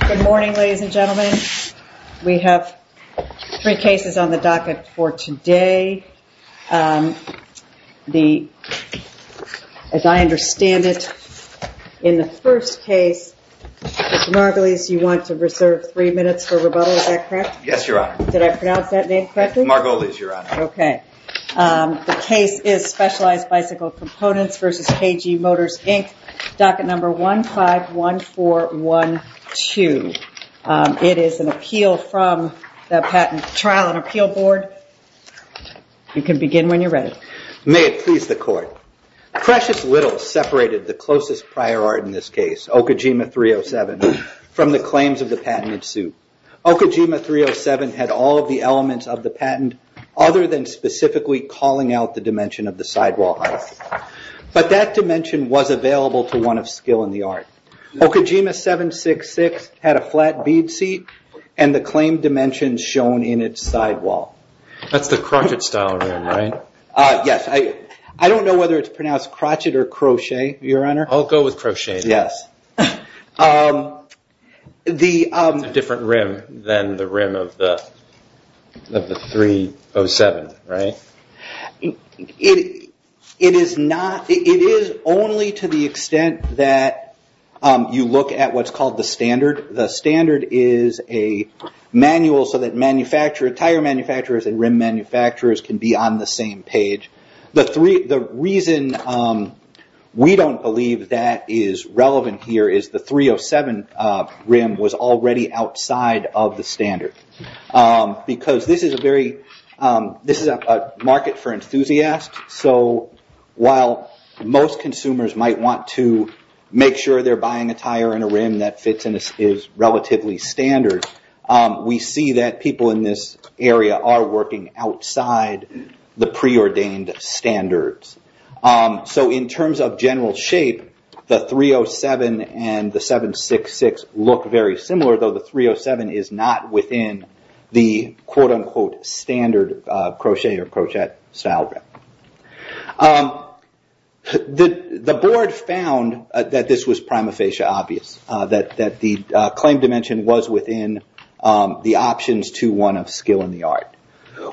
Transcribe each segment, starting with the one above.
Good morning, ladies and gentlemen. We have three cases on the docket for today. As I understand it, in the first case, Mr. Margolis, you want to reserve three minutes for rebuttal, is that correct? Yes, Your Honor. Did I pronounce that name correctly? Margolis, Your Honor. Okay. The case is Specialized Bicycle Components v. K.G. Motors, Inc., docket number 151412. It is an appeal from the Patent Trial and Appeal Board. You can begin when you're ready. May it please the Court. Precious Little separated the closest prior art in this case, Okajima 307, from the claims of the patented suit. Okajima 307 had all of the elements of the patent other than specifically calling out the dimension of the sidewall height. But that dimension was available to one of skill in the art. Okajima 766 had a flat bead seat and the claimed dimensions shown in its sidewall. That's the crotchet style rim, right? Yes. I don't know whether it's pronounced crotchet or crochet, Your Honor. I'll go with crochet. Yes. It's a different rim than the rim of the 307, right? It is only to the extent that you look at what's called the standard. The standard is a manual so that tire manufacturers and rim manufacturers can be on the same page. The reason we don't believe that is relevant here is the 307 rim was already outside of the standard. Because this is a market for enthusiasts. While most consumers might want to make sure they're buying a tire and a rim that fits and is relatively standard, we see that people in this area are working outside the preordained standards. In terms of general shape, the 307 and the 766 look very similar, though the 307 is not within the quote unquote standard crochet or crotchet style rim. The board found that this was prima facie obvious, that the claim dimension was within the options to one of skill and the art.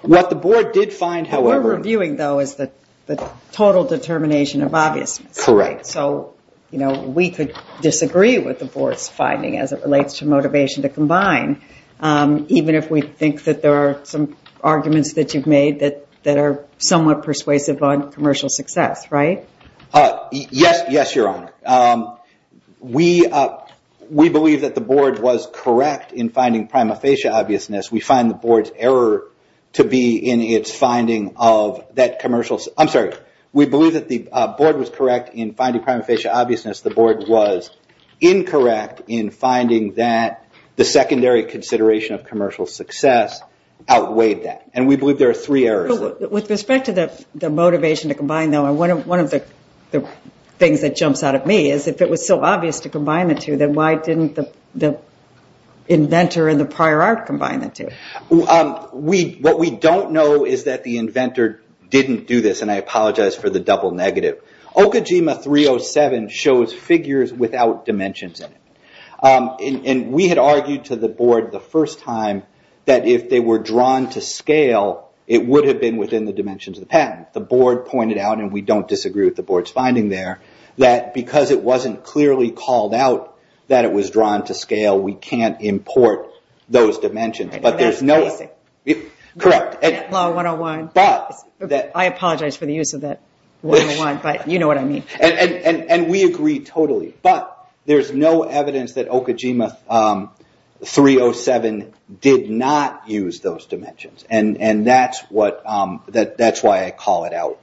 What the board did find, however... What we're reviewing, though, is the total determination of obviousness. Correct. We could disagree with the board's finding as it relates to motivation to combine, even if we think that there are some arguments that you've made that are somewhat persuasive on commercial success, right? Yes, Your Honor. We believe that the board was correct in finding prima facie obviousness. We find the board's error to be in its finding of that commercial... I'm sorry. We believe that the board was correct in finding prima facie obviousness. The board was incorrect in finding that the secondary consideration of commercial success outweighed that. We believe there are three errors. With respect to the motivation to combine, though, one of the things that jumps out at me is if it was so obvious to combine the two, then why didn't the inventor and the prior art combine the two? What we don't know is that the inventor didn't do this, and I apologize for the double negative. Okajima 307 shows figures without dimensions in it. We had argued to the board the first time that if they were drawn to scale, it would have been within the dimensions of the patent. The board pointed out, and we don't disagree with the board's finding there, that because it wasn't clearly called out that it was drawn to scale, we can't import those dimensions. That's crazy. Correct. I apologize for the use of that 101, but you know what I mean. We agree totally. But there's no evidence that Okajima 307 did not use those dimensions, and that's why I call it out.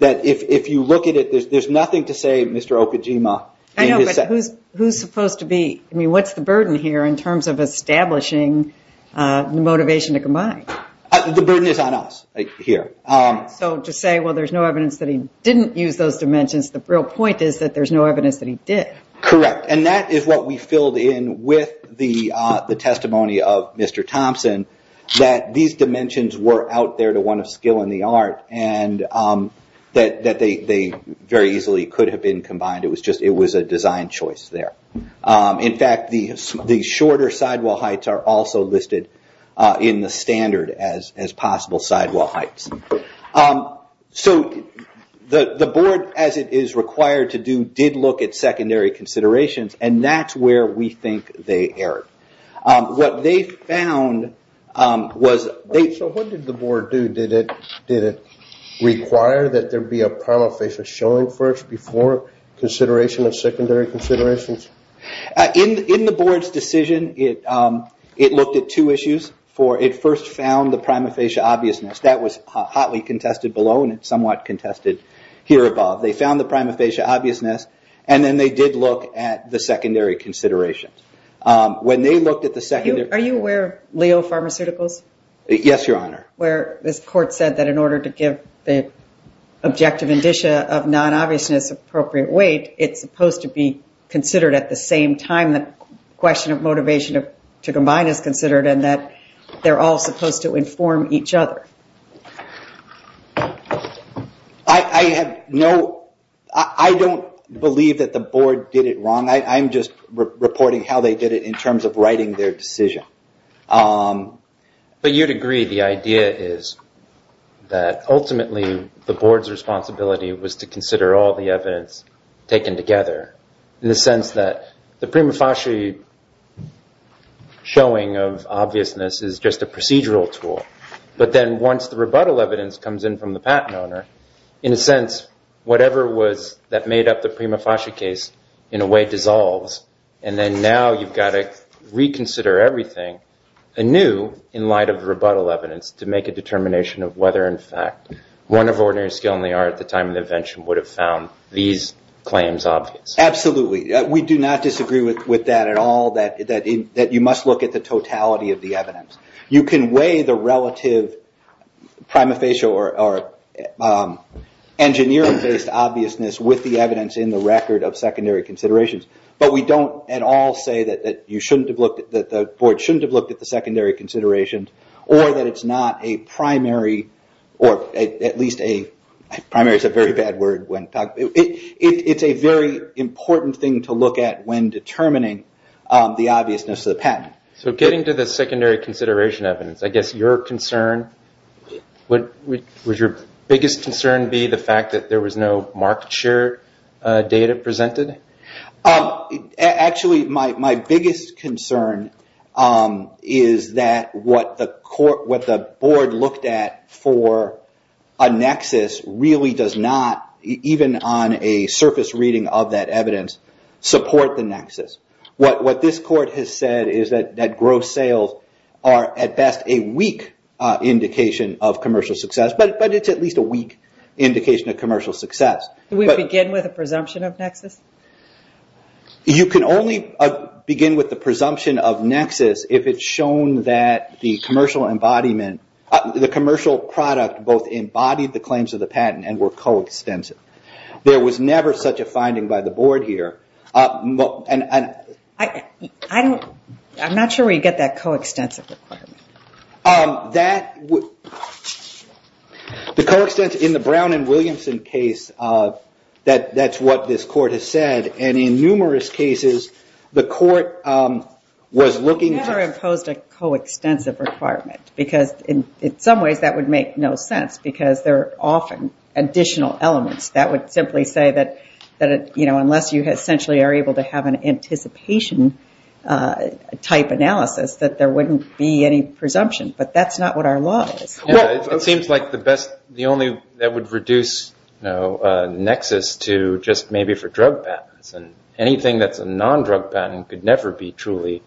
If you look at it, there's nothing to say Mr. Okajima. I know, but who's supposed to be? What's the burden here in terms of establishing the motivation to combine? The burden is on us here. To say, well, there's no evidence that he didn't use those dimensions, the real point is that there's no evidence that he did. Correct, and that is what we filled in with the testimony of Mr. Thompson, that these dimensions were out there to one of skill and the art, and that they very easily could have been combined. It was a design choice there. In fact, the shorter sidewall heights are also listed in the standard as possible sidewall heights. So the board, as it is required to do, did look at secondary considerations, and that's where we think they erred. What they found was they... So what did the board do? Did it require that there be a prima facie showing first before consideration of secondary considerations? In the board's decision, it looked at two issues. It first found the prima facie obviousness. That was hotly contested below, and it's somewhat contested here above. They found the prima facie obviousness, and then they did look at the secondary considerations. When they looked at the secondary... Are you aware of Leo Pharmaceuticals? Yes, Your Honor. Where this court said that in order to give the objective indicia of non-obviousness appropriate weight, it's supposed to be considered at the same time the question of motivation to combine is considered and that they're all supposed to inform each other. I have no... I don't believe that the board did it wrong. I'm just reporting how they did it in terms of writing their decision. But you'd agree the idea is that ultimately the board's responsibility was to consider all the evidence taken together in the sense that the prima facie showing of obviousness is just a procedural tool. But then once the rebuttal evidence comes in from the patent owner, in a sense, whatever was that made up the prima facie case in a way dissolves, and then now you've got to reconsider everything anew in light of the rebuttal evidence to make a determination of whether, in fact, one of ordinary skill and the art at the time of the invention would have found these claims obvious. Absolutely. We do not disagree with that at all, that you must look at the totality of the evidence. You can weigh the relative prima facie or engineering-based obviousness with the evidence in the record of secondary considerations, but we don't at all say that the board shouldn't have looked at the secondary considerations or that it's not a primary or at least a primary is a very bad word. It's a very important thing to look at when determining the obviousness of the patent. Getting to the secondary consideration evidence, I guess your concern, would your biggest concern be the fact that there was no market share data presented? Actually, my biggest concern is that what the board looked at for a nexus really does not, even on a surface reading of that evidence, support the nexus. What this court has said is that gross sales are at best a weak indication of commercial success, but it's at least a weak indication of commercial success. Can we begin with a presumption of nexus? You can only begin with the presumption of nexus if it's shown that the commercial product both embodied the claims of the patent and were coextensive. There was never such a finding by the board here. I'm not sure where you get that coextensive requirement. That would... The coextensive in the Brown and Williamson case, that's what this court has said. In numerous cases, the court was looking to... It never imposed a coextensive requirement. In some ways, that would make no sense because there are often additional elements that would simply say that unless you essentially are able to have an anticipation type analysis, that there wouldn't be any presumption, but that's not what our law is. It seems like the only... That would reduce nexus to just maybe for drug patents. Anything that's a non-drug patent could never be truly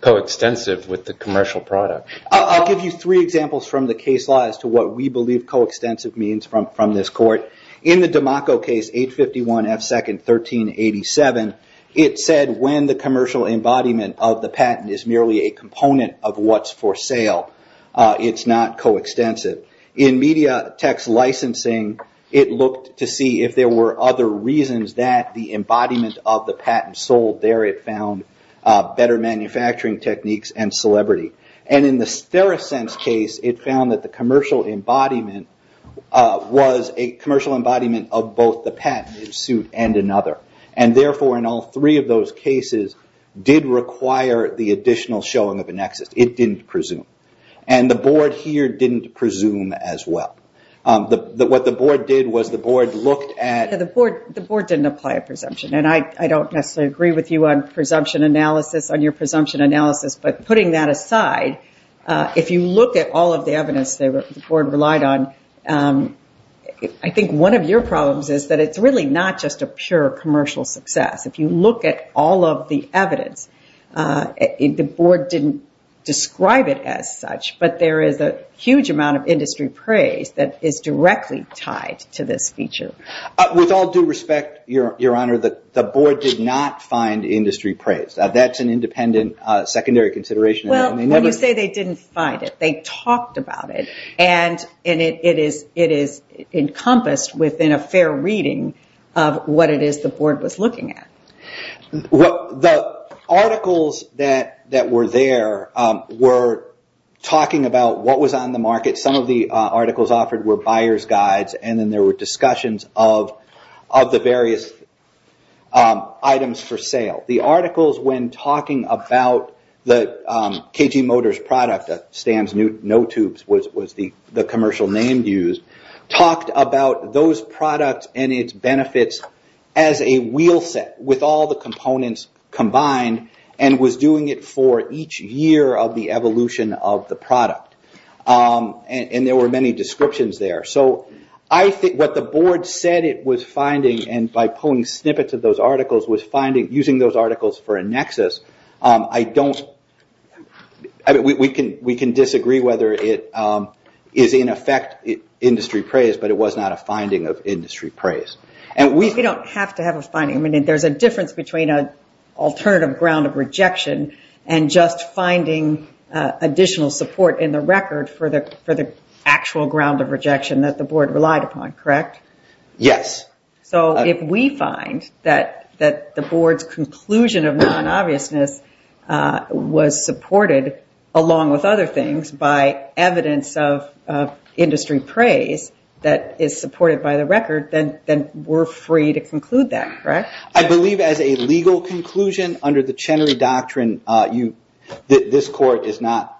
coextensive with the commercial product. I'll give you three examples from the case law as to what we believe coextensive means from this court. In the DiMacco case, 851 F. 2nd, 1387, it said when the commercial embodiment of the patent is merely a component of what's for sale, it's not coextensive. In MediaTek's licensing, it looked to see if there were other reasons that the embodiment of the patent sold there. It found better manufacturing techniques and celebrity. In the Theracense case, it found that the commercial embodiment was a commercial embodiment of both the patent in suit and another. Therefore, in all three of those cases, did require the additional showing of a nexus. It didn't presume. And the board here didn't presume as well. What the board did was the board looked at... The board didn't apply a presumption, and I don't necessarily agree with you on your presumption analysis, but putting that aside, if you look at all of the evidence the board relied on, I think one of your problems is that it's really not just a pure commercial success. If you look at all of the evidence, the board didn't describe it as such, but there is a huge amount of industry praise that is directly tied to this feature. With all due respect, Your Honor, the board did not find industry praise. That's an independent secondary consideration. Well, when you say they didn't find it, they talked about it, and it is encompassed within a fair reading of what it is the board was looking at. The articles that were there were talking about what was on the market. Some of the articles offered were buyer's guides, and then there were discussions of the various items for sale. The articles, when talking about the KG Motors product, Stamps No Tubes was the commercial name used, talked about those products and its benefits as a wheel set with all the components combined, and was doing it for each year of the evolution of the product. There were many descriptions there. What the board said it was finding, and by pulling snippets of those articles, was using those articles for a nexus. We can disagree whether it is in effect industry praise, but it was not a finding of industry praise. You don't have to have a finding. There's a difference between an alternative ground of rejection and just finding additional support in the record for the actual ground of rejection that the board relied upon, correct? Yes. So if we find that the board's conclusion of non-obviousness was supported, along with other things, by evidence of industry praise that is supported by the record, then we're free to conclude that, correct? I believe as a legal conclusion, under the Chenery Doctrine, this court is not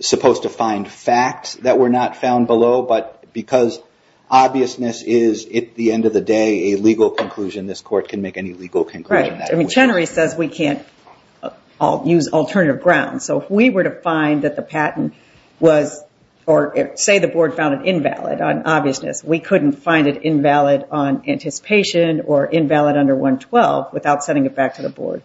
supposed to find facts that were not found below, but because obviousness is, at the end of the day, a legal conclusion, this court can make any legal conclusion. Right. I mean, Chenery says we can't use alternative grounds. So if we were to find that the patent was, or say the board found it invalid on obviousness, we couldn't find it invalid on anticipation or invalid under 112 without sending it back to the board.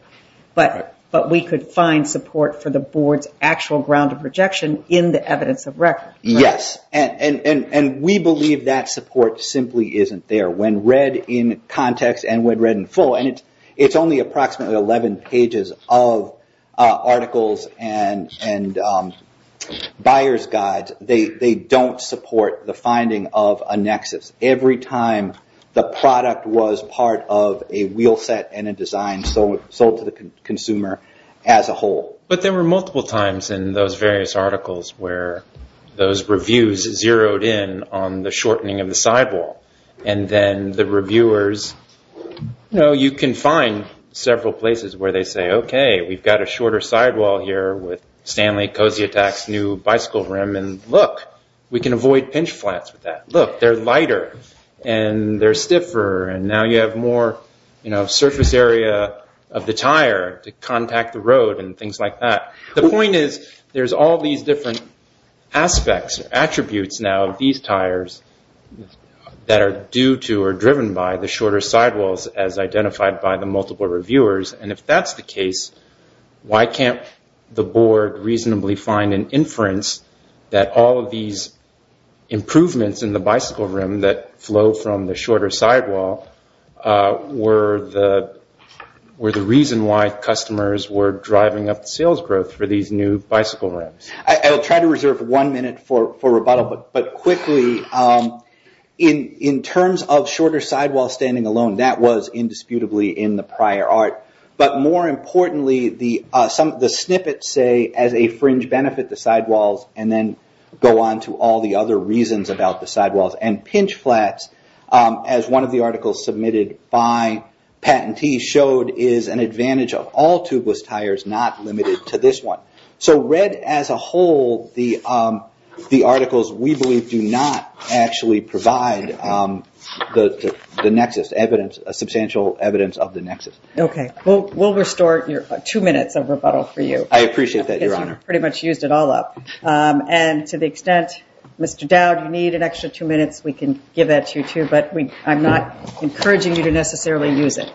But we could find support for the board's actual ground of rejection in the evidence of record. Yes. And we believe that support simply isn't there. When read in context and when read in full, and it's only approximately 11 pages of articles and buyer's guides, they don't support the finding of a nexus. Every time the product was part of a wheel set and a design sold to the consumer as a whole. But there were multiple times in those various articles where those reviews zeroed in on the shortening of the sidewall. And then the reviewers, you know, you can find several places where they say, okay, we've got a shorter sidewall here with Stanley Kosyatak's new bicycle rim, and look, we can avoid pinch flats with that. Look, they're lighter and they're stiffer, and now you have more surface area of the tire to contact the road and things like that. The point is, there's all these different aspects, attributes now of these tires that are due to or driven by the shorter sidewalls as identified by the multiple reviewers. And if that's the case, why can't the board reasonably find an inference that all of these improvements in the bicycle rim that flow from the shorter sidewall were the reason why customers were driving up the sales growth for these new bicycle rims? I'll try to reserve one minute for rebuttal, but quickly, in terms of shorter sidewall standing alone, that was indisputably in the prior art. But more importantly, the snippets say, as a fringe benefit, the sidewalls, and then go on to all the other reasons about the sidewalls and pinch flats as one of the articles submitted by patentees showed is an advantage of all tubeless tires, not limited to this one. So read as a whole the articles we believe do not actually provide the nexus, substantial evidence of the nexus. We'll restore two minutes of rebuttal for you. I appreciate that, Your Honor. Because you pretty much used it all up. And to the extent, Mr. Dowd, you need an extra two minutes, we can give that to you, too. But I'm not encouraging you to necessarily use it.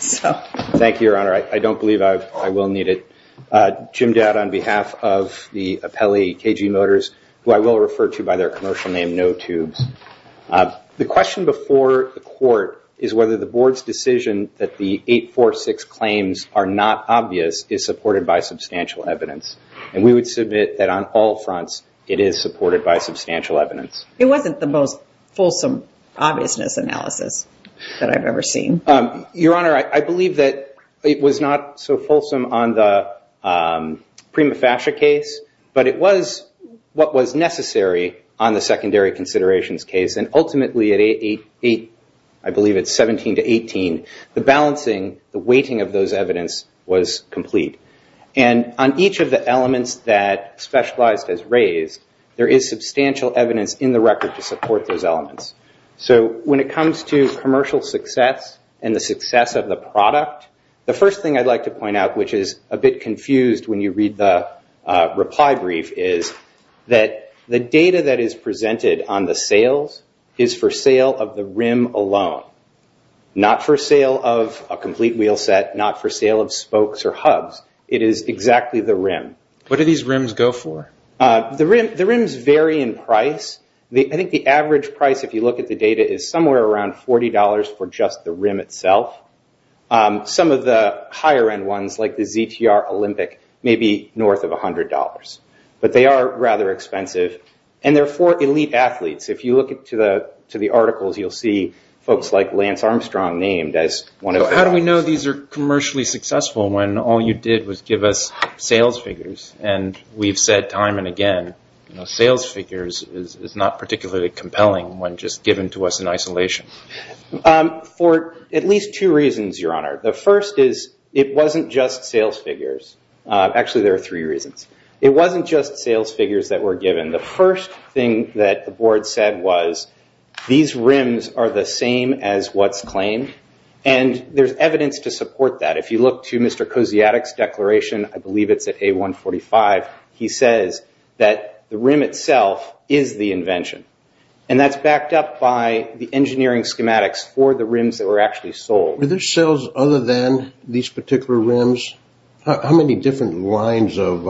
Thank you, Your Honor. I don't believe I will need it. Jim Dowd on behalf of the appellee, KG Motors, who I will refer to by their commercial name, No Tubes. The question before the court is whether the board's decision that the 846 claims are not obvious is supported by substantial evidence. And we would submit that on all fronts it is supported by substantial evidence. It wasn't the most fulsome obviousness analysis that I've ever seen. Your Honor, I believe that it was not so fulsome on the Prima Fascia case, but it was what was necessary on the secondary considerations case. And ultimately, I believe it's 17 to 18, the balancing, the weighting of those evidence was complete. And on each of the elements that Specialized has raised, there is substantial evidence in the record to support those elements. So when it comes to commercial success and the success of the product, the first thing I'd like to point out, which is a bit confused when you read the reply brief, is that the data that is presented on the sales is for sale of the rim alone, not for sale of a complete wheel set, not for sale of spokes or hubs. It is exactly the rim. What do these rims go for? The rims vary in price. I think the average price, if you look at the data, is somewhere around $40 for just the rim itself. Some of the higher end ones, like the ZTR Olympic, may be north of $100. But they are rather expensive. And they're for elite athletes. If you look to the articles, you'll see folks like Lance Armstrong named as one of the athletes. How do we know these are commercially successful when all you did was give us sales figures? And we've said time and again, sales figures is not particularly compelling when just given to us in isolation. For at least two reasons, Your Honor. The first is, it wasn't just sales figures. Actually, there are three reasons. It wasn't just sales figures that were given. The first thing that the board said was, these rims are the same as what's claimed. And there's evidence to support that. If you look to Mr. Kosciadek's declaration, I believe it's at A145, he says that the rim itself is the invention. And that's backed up by the engineering schematics for the rims that were actually sold. Were there sales other than these particular rims? How many different lines of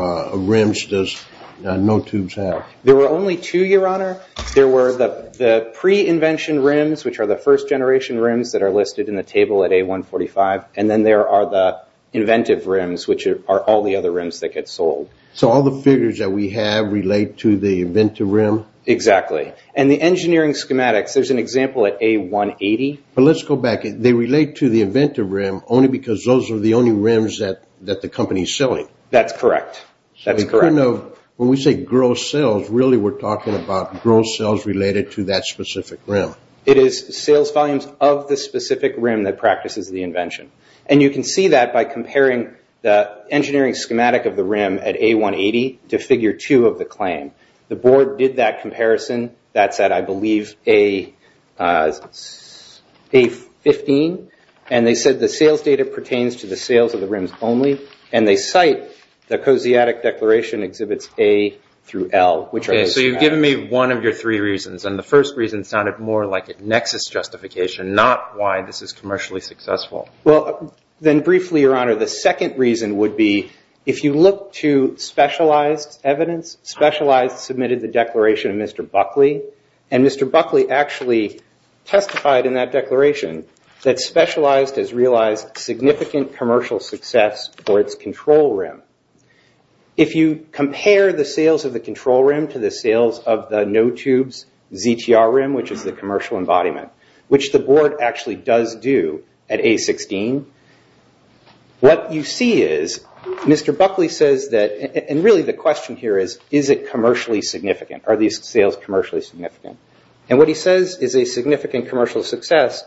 rims does No Tubes have? There were only two, Your Honor. There were the pre-invention rims, which are the first-generation rims that are listed in the table at A145. And then there are the inventive rims, which are all the other rims that get sold. So all the figures that we have relate to the inventive rim? Exactly. And the engineering schematics, there's an example at A180. But let's go back. They relate to the inventive rim only because those are the only rims that the company's selling. That's correct. When we say gross sales, really we're talking about gross sales related to that specific rim. It is sales volumes of the specific rim that practices the invention. And you can see that by comparing the engineering schematic of the rim at A180 to Figure 2 of the claim. The board did that comparison. That's at, I believe, A15. And they said the sales data pertains to the sales of the rims only. And they cite the Kosciatek Declaration Exhibits A through L, which are listed there. Okay, so you've given me one of your three reasons. And the first reason sounded more like a nexus justification, not why this is commercially successful. Well, then briefly, Your Honor, the second reason would be if you look to specialized evidence, Specialized submitted the declaration of Mr. Buckley. And Mr. Buckley actually testified in that declaration that Specialized has realized significant commercial success for its control rim. If you compare the sales of the control rim to the sales of the no-tubes ZTR rim, which is the commercial embodiment, which the board actually does do at A16, what you see is Mr. Buckley says that, and really the question here is, is it commercially significant? Are these sales commercially significant? And what he says is a significant commercial success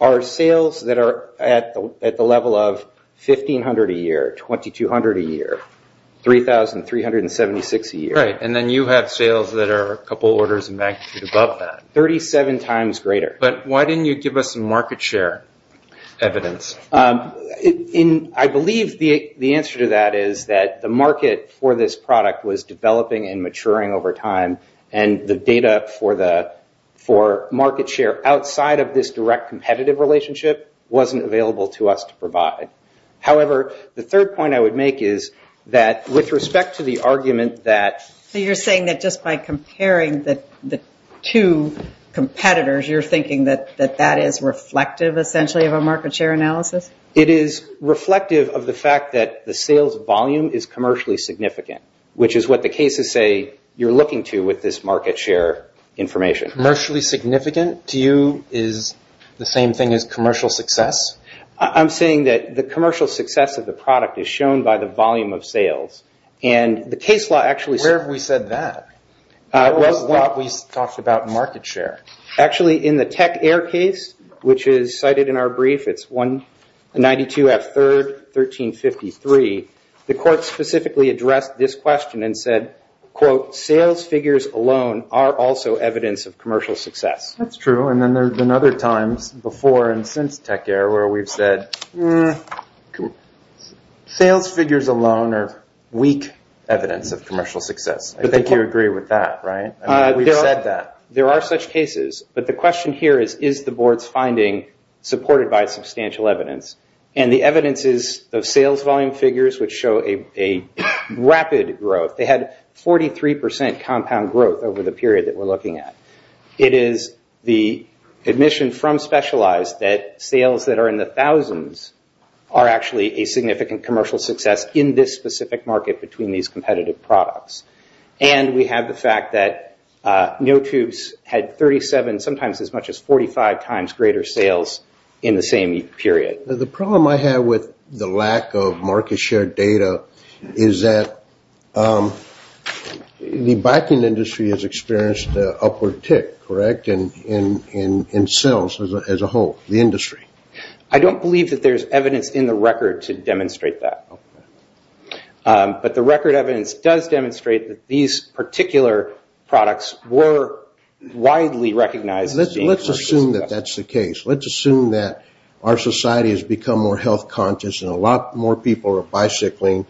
are sales that are at the level of $1,500 a year, $2,200 a year, $3,376 a year. Right, and then you have sales that are a couple orders of magnitude above that. 37 times greater. But why didn't you give us some market share evidence? I believe the answer to that is that the market for this product was developing and maturing over time, and the data for market share outside of this direct competitive relationship wasn't available to us to provide. However, the third point I would make is that with respect to the argument that... So you're saying that just by comparing the two competitors, you're thinking that that is reflective, essentially, of a market share analysis? It is reflective of the fact that the sales volume is commercially significant, which is what the cases say you're looking to with this market share information. Commercially significant to you is the same thing as commercial success? I'm saying that the commercial success of the product is shown by the volume of sales, and the case law actually... Where have we said that? What have we talked about in market share? Actually, in the Tech Air case, which is cited in our brief, it's 192 F. 3rd, 1353, the court specifically addressed this question and said, quote, sales figures alone are also evidence of commercial success. That's true, and then there have been other times before and since Tech Air where we've said, sales figures alone are weak evidence of commercial success. I think you agree with that, right? We've said that. There are such cases, but the question here is, is the board's finding supported by substantial evidence? The evidence is the sales volume figures which show a rapid growth. They had 43% compound growth over the period that we're looking at. It is the admission from Specialized that sales that are in the thousands are actually a significant commercial success in this specific market between these competitive products. And we have the fact that NoTubes had 37, sometimes as much as 45 times greater sales in the same period. The problem I have with the lack of market share data is that the biking industry has experienced an upward tick, correct, in sales as a whole, the industry. I don't believe that there's evidence in the record to demonstrate that. But the record evidence does demonstrate that these particular products were widely recognized as being commercial success. Let's assume that that's the case. Let's assume that our society has become more health conscious and a lot more people are bicycling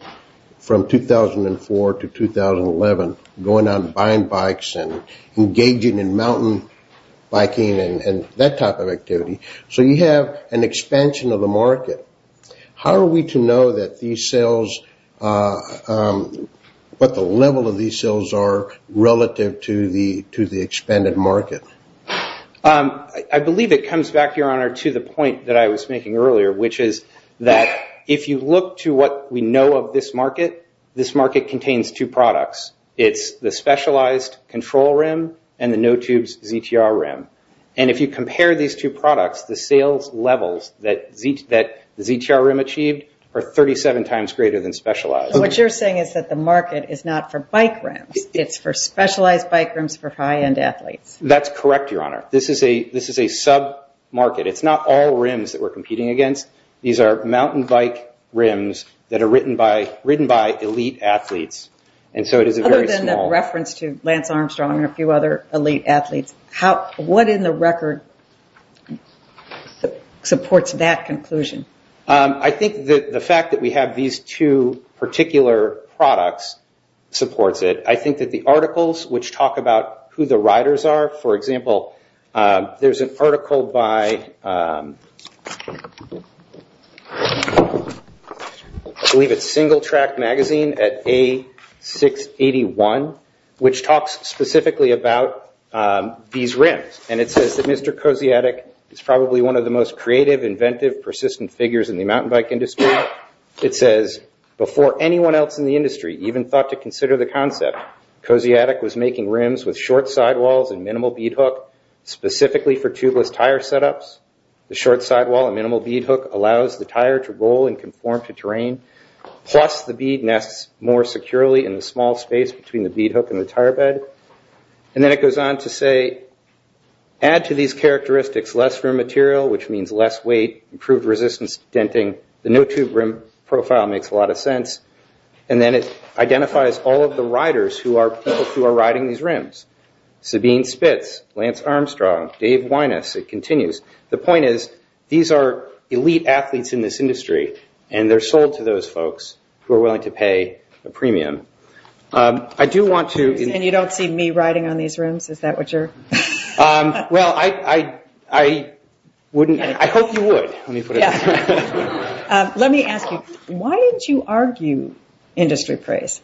from 2004 to 2011, going out and buying bikes and engaging in mountain biking and that type of activity. So you have an expansion of the market. How are we to know that these sales, what the level of these sales are relative to the expanded market? I believe it comes back, Your Honor, to the point that I was making earlier, which is that if you look to what we know of this market, this market contains two products. It's the Specialized Control Rim and the NoTubes ZTR Rim. And if you compare these two products, the sales levels that the ZTR Rim achieved are 37 times greater than Specialized. What you're saying is that the market is not for bike rims. It's for specialized bike rims for high-end athletes. That's correct, Your Honor. This is a sub-market. It's not all rims that we're competing against. These are mountain bike rims that are ridden by elite athletes. Other than the reference to Lance Armstrong and a few other elite athletes, what in the record supports that conclusion? I think the fact that we have these two particular products supports it. I think that the articles which talk about who the riders are, for example, there's an article by I believe it's Single Track Magazine at A681, which talks specifically about these rims. And it says that Mr. Kosciadek is probably one of the most creative, inventive, persistent figures in the mountain bike industry. It says, Before anyone else in the industry even thought to consider the concept, Kosciadek was making rims with short sidewalls and minimal bead hook specifically for tubeless tire setups. The short sidewall and minimal bead hook allows the tire to roll and conform to terrain, plus the bead nests more securely in the small space between the bead hook and the tire bed. And then it goes on to say, Add to these characteristics less rim material, which means less weight, improved resistance to denting. The no tube rim profile makes a lot of sense. And then it identifies all of the riders who are riding these rims. Sabine Spitz, Lance Armstrong, Dave Winus, it continues. The point is, these are elite athletes in this industry and they're sold to those folks who are willing to pay a premium. I do want to... And you don't see me riding on these rims? Is that what you're... Well, I wouldn't... I hope you would. Let me ask you, why did you argue industry praise?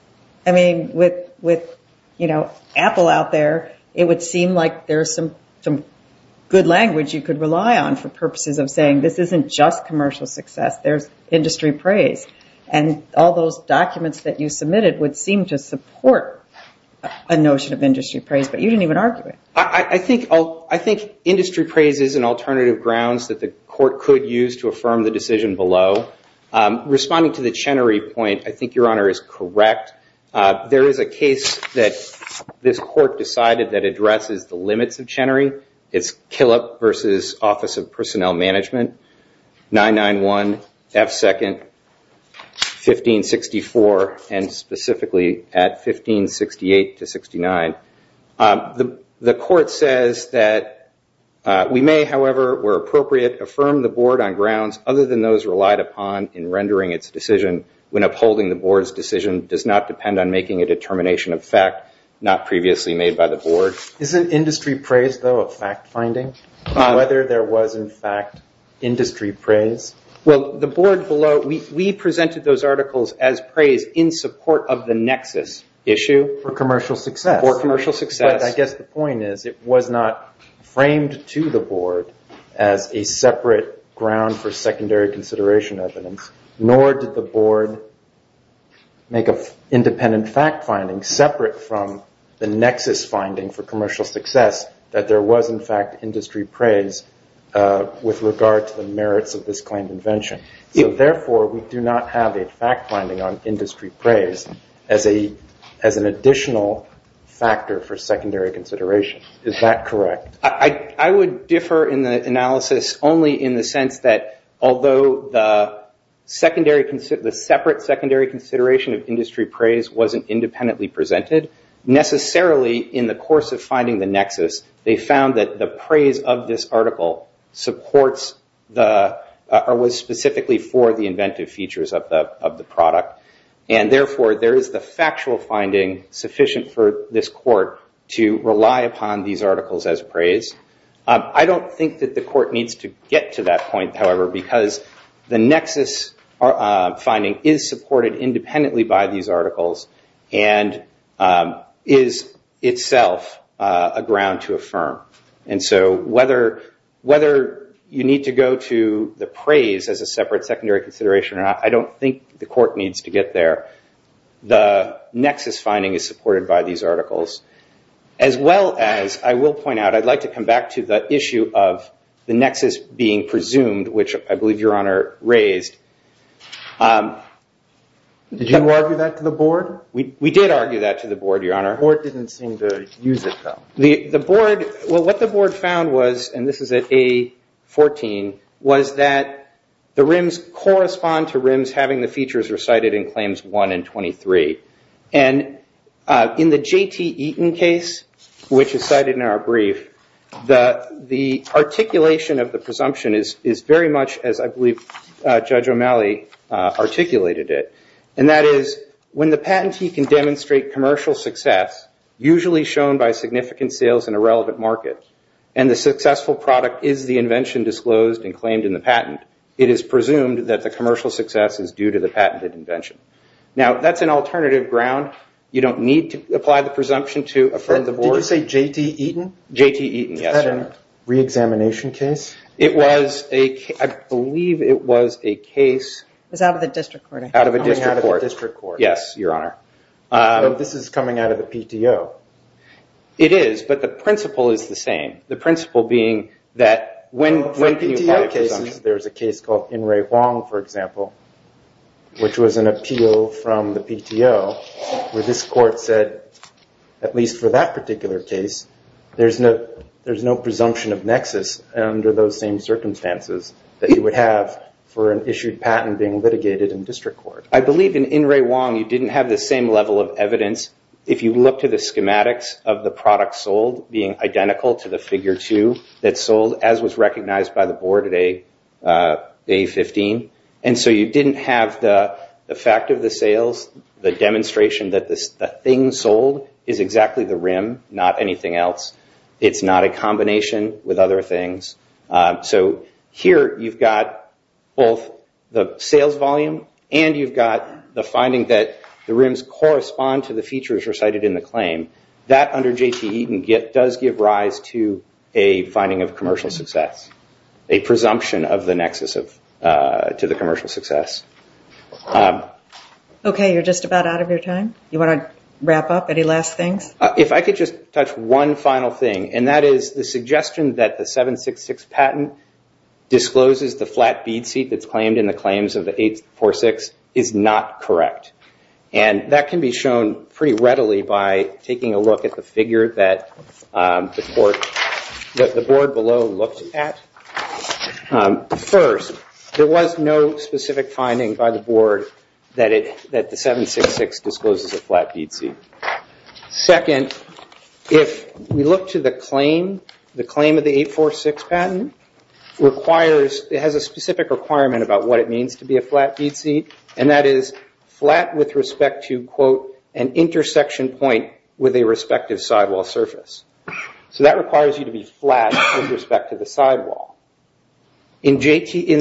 I mean, with, you know, Apple out there, it would seem like there's some good language you could rely on for purposes of saying this isn't just commercial success, there's industry praise. And all those documents that you submitted would seem to support a notion of industry praise, but you didn't even argue it. I think industry praise is an alternative grounds that the court could use to affirm the decision below. Responding to the Chenery point, I think Your Honor is correct. There is a case that this court decided that addresses the limits of Chenery. It's Killip versus Office of Personnel Management. 991, F2, 1564, and specifically at 1568-69. The court says that we may, however, where appropriate, affirm the board on grounds other than those relied upon in rendering its decision when upholding the board's decision does not depend on making a determination of fact not previously made by the board. Isn't industry praise, though, a fact finding? Whether there was, in fact, industry praise? Well, the board below, we presented those articles as praise in support of the nexus issue for commercial success. For commercial success. But I guess the point is it was not framed to the board as a separate ground for secondary consideration evidence, nor did the board make an independent fact finding separate from the nexus finding for commercial success that there was, in fact, industry praise with regard to the merits of this claimed invention. Therefore, we do not have a fact finding on industry praise as an additional factor for secondary consideration. Is that correct? I would differ in the analysis only in the sense that although the separate secondary consideration of industry praise wasn't independently presented, necessarily in the course of finding the nexus, they found that the praise of this article supports the, or was specifically for the inventive features of the product. And therefore, there is the factual finding sufficient for this court to rely upon these articles as praise. I don't think that the court needs to get to that point, however, because the nexus finding is supported independently by these articles and is itself a ground to affirm. And so, whether you need to go to the praise as a separate secondary consideration or not, I don't think the court needs to get there. The nexus finding is supported by these articles as well as, I will point out, I'd like to come back to the issue of the nexus being presumed, which I believe Your Honor raised. Did you argue that to the board? We did argue that to the board, Your Honor. The board didn't seem to use it, though. The board, well, what the board found was, and this is at A14, was that the rims correspond to rims having the features recited in Claims 1 and 23. And in the J.T. Eaton case, which is cited in our brief, the articulation of the presumption is very much, as I believe Judge O'Malley articulated it, and that is, when the patentee can demonstrate commercial success, usually shown by significant sales in a relevant market, and the successful product is the invention disclosed and claimed in the patent, it is presumed that the commercial success is due to the patented invention. Now, that's an alternative ground. You don't need to apply the presumption to affirm the board. Did you say J.T. Eaton? J.T. Eaton, yes, Your Honor. Was that a reexamination case? It was a case, I believe it was a case... It was out of the district court. Out of a district court. Coming out of the district court. Yes, Your Honor. This is coming out of the PTO. It is, but the principle is the same. The principle being that when you apply presumption... In PTO cases, there's a case called In Re Huang, for example, from the PTO where this court said, at least for that particular case, there's no presumption of nexus under those same circumstances that you would have for an issued patent being litigated in district court. I believe in In Re Huang, you didn't have the same level of evidence if you look to the schematics of the product sold being identical to the figure two that sold as was recognized by the board at A15. And so you didn't have the fact of the sales, the demonstration that the thing sold is exactly the rim, not anything else. It's not a combination with other things. So here you've got both the sales volume and you've got the finding that the rims correspond to the features recited in the claim. That under J.T. Eaton does give rise to a finding of commercial success, a presumption of the nexus to the commercial success. Okay, you're just about out of your time? You want to wrap up? Any last things? If I could just touch one final thing, and that is the suggestion that the 766 patent discloses the flat bead seat that's claimed in the claims of the 846 is not correct. And that can be shown pretty readily by taking a look at the figure that the board below looked at. First, there was no specific finding by the board that the 766 discloses a flat bead seat. Second, if we look to the claim, the claim of the 846 patent requires, it has a specific requirement about what it means to be a flat bead seat, and that is flat with respect to quote, an intersection point with a respective sidewall surface. So that requires you to be flat with respect to the sidewall. In the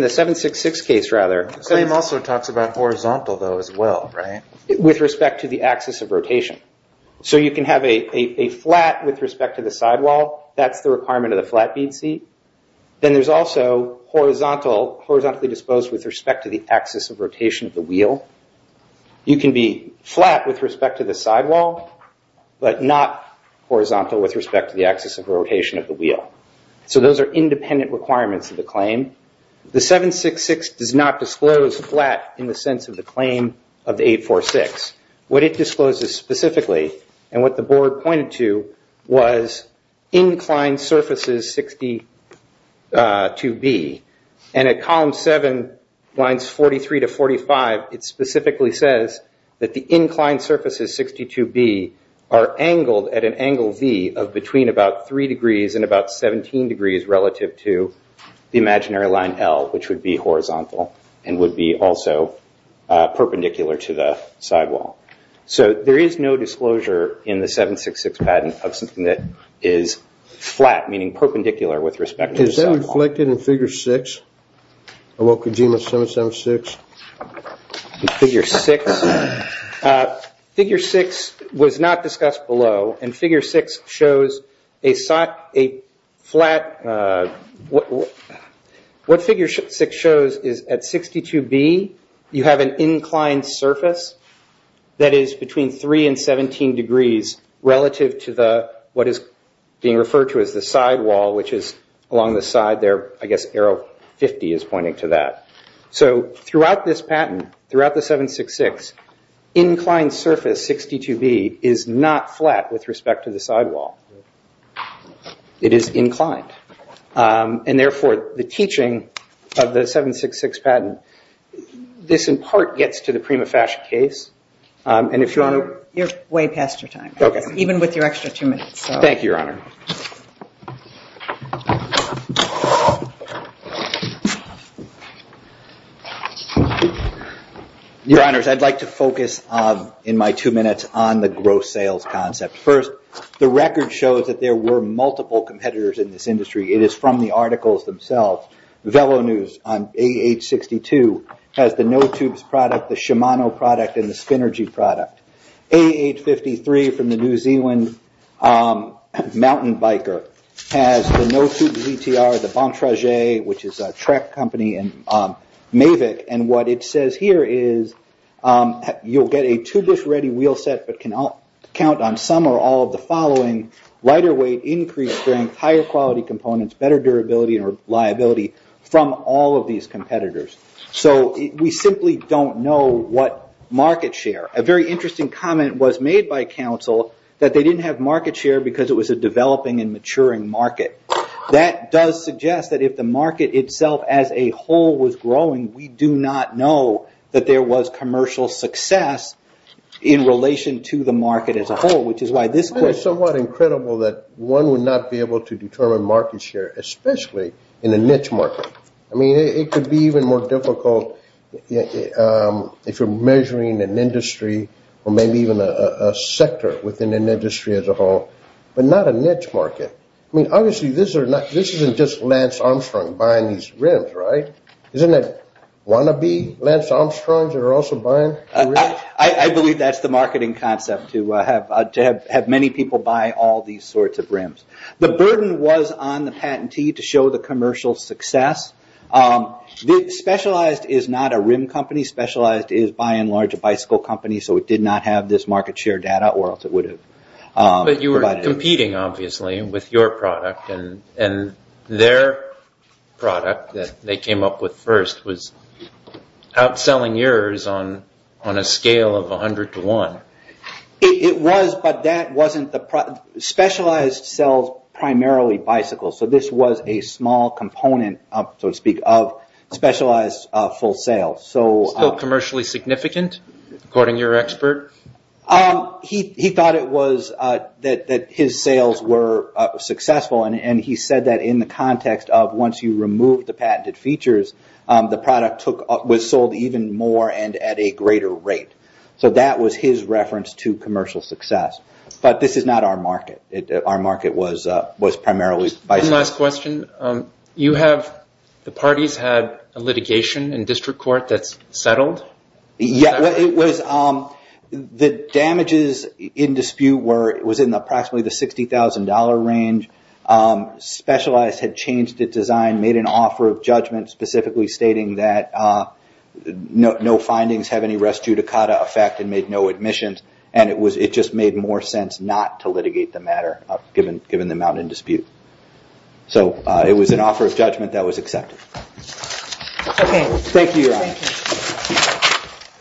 766 case, rather. The same also talks about horizontal though as well, right? With respect to the axis of rotation. So you can have a flat with respect to the sidewall. That's the requirement of the flat bead seat. Then there's also horizontal, horizontally disposed with respect to the axis of rotation of the wheel. You can be flat with respect to the sidewall, but not horizontal with respect to the axis of rotation of the wheel. So those are independent requirements of the claim. The 766 does not disclose flat in the sense of the claim of the 846. What it discloses specifically, and what the board pointed to, was inclined surfaces 62B. And at column 7, lines 43 to 45, it specifically says that the inclined surfaces 62B are angled at an angle V of between about three degrees and about 17 degrees relative to the imaginary line L, which would be horizontal and would be also perpendicular to the sidewall. So there is no disclosure in the 766 patent of something that is flat, meaning perpendicular with respect to the sidewall. Is that reflected in figure 6? About Kojima 776? Figure 6? Figure 6 was not discussed below, and figure 6 shows a flat... What figure 6 shows is at 62B you have an inclined surface that is between 3 and 17 degrees relative to the... what is being referred to as the sidewall, which is along the side there, I guess arrow 50 is pointing to that. So, throughout this patent, throughout the 766, inclined surface 62B is not flat with respect to the sidewall. It is inclined. And therefore, the teaching of the 766 patent, this in part gets to the Kojima fashion case, and if you want to... You're way past your time. Okay. Even with your extra two minutes. Thank you, Your Honor. Your Honors, I'd like to focus in my two minutes on the gross sales concept. First, the record shows that there were multiple competitors in this industry. It is from the articles themselves. Velo News on AH62 has the No Tubes product, the Shimano product, and the Spinergy product. AH53 from the New Zealand mountain biker has the No Tubes ETR, the Bontrager, which is a track company in Mavic, and what it says here is you'll get a tubeless ready wheel set, but can count on some or all of the following, lighter weight, increased strength, higher quality components, better durability, and reliability from all of these competitors. We simply don't know what market share. A very interesting comment was made by counsel that they didn't have market share because it was a developing and maturing market. That does suggest that if the market itself as a whole was growing, we do not know that there was commercial success in relation to the market as a whole. It's somewhat incredible that one would not be able to determine market share especially in a niche market. It could be even more difficult if you're measuring an industry or maybe even a sector within an industry as a whole, but not a niche market. I mean, obviously, this isn't just Lance Armstrong buying these rims, right? Isn't it wannabe Lance Armstrong that are also buying the rims? I believe that's the marketing concept to have many people buy all these sorts of It's not a rim company. Specialized is, by and large, a bicycle company, so it did not have this market share data or else it would have provided it. But you were competing obviously with your product and their product that they came up with first was outselling yours on a scale of 100 to 1,000 sales. Still commercially significant, according to your expert? He thought it was that his sales were successful and he said that in the context of once you removed the patented features, the product was sold even more and at a greater rate. So that was his reference to commercial success. But this is not our market. Our market was primarily bicycles. One last question. You have the parties had a litigation in district court that's settled? Yeah. It was the damages in dispute was in approximately the $60,000 range. Specialized had changed its design, made an offer of judgment specifically stating that no findings have any res judicata effect and made no admissions and it just made more sense not to litigate the dispute. So it was an offer of judgment that was accepted. Okay. Thank you.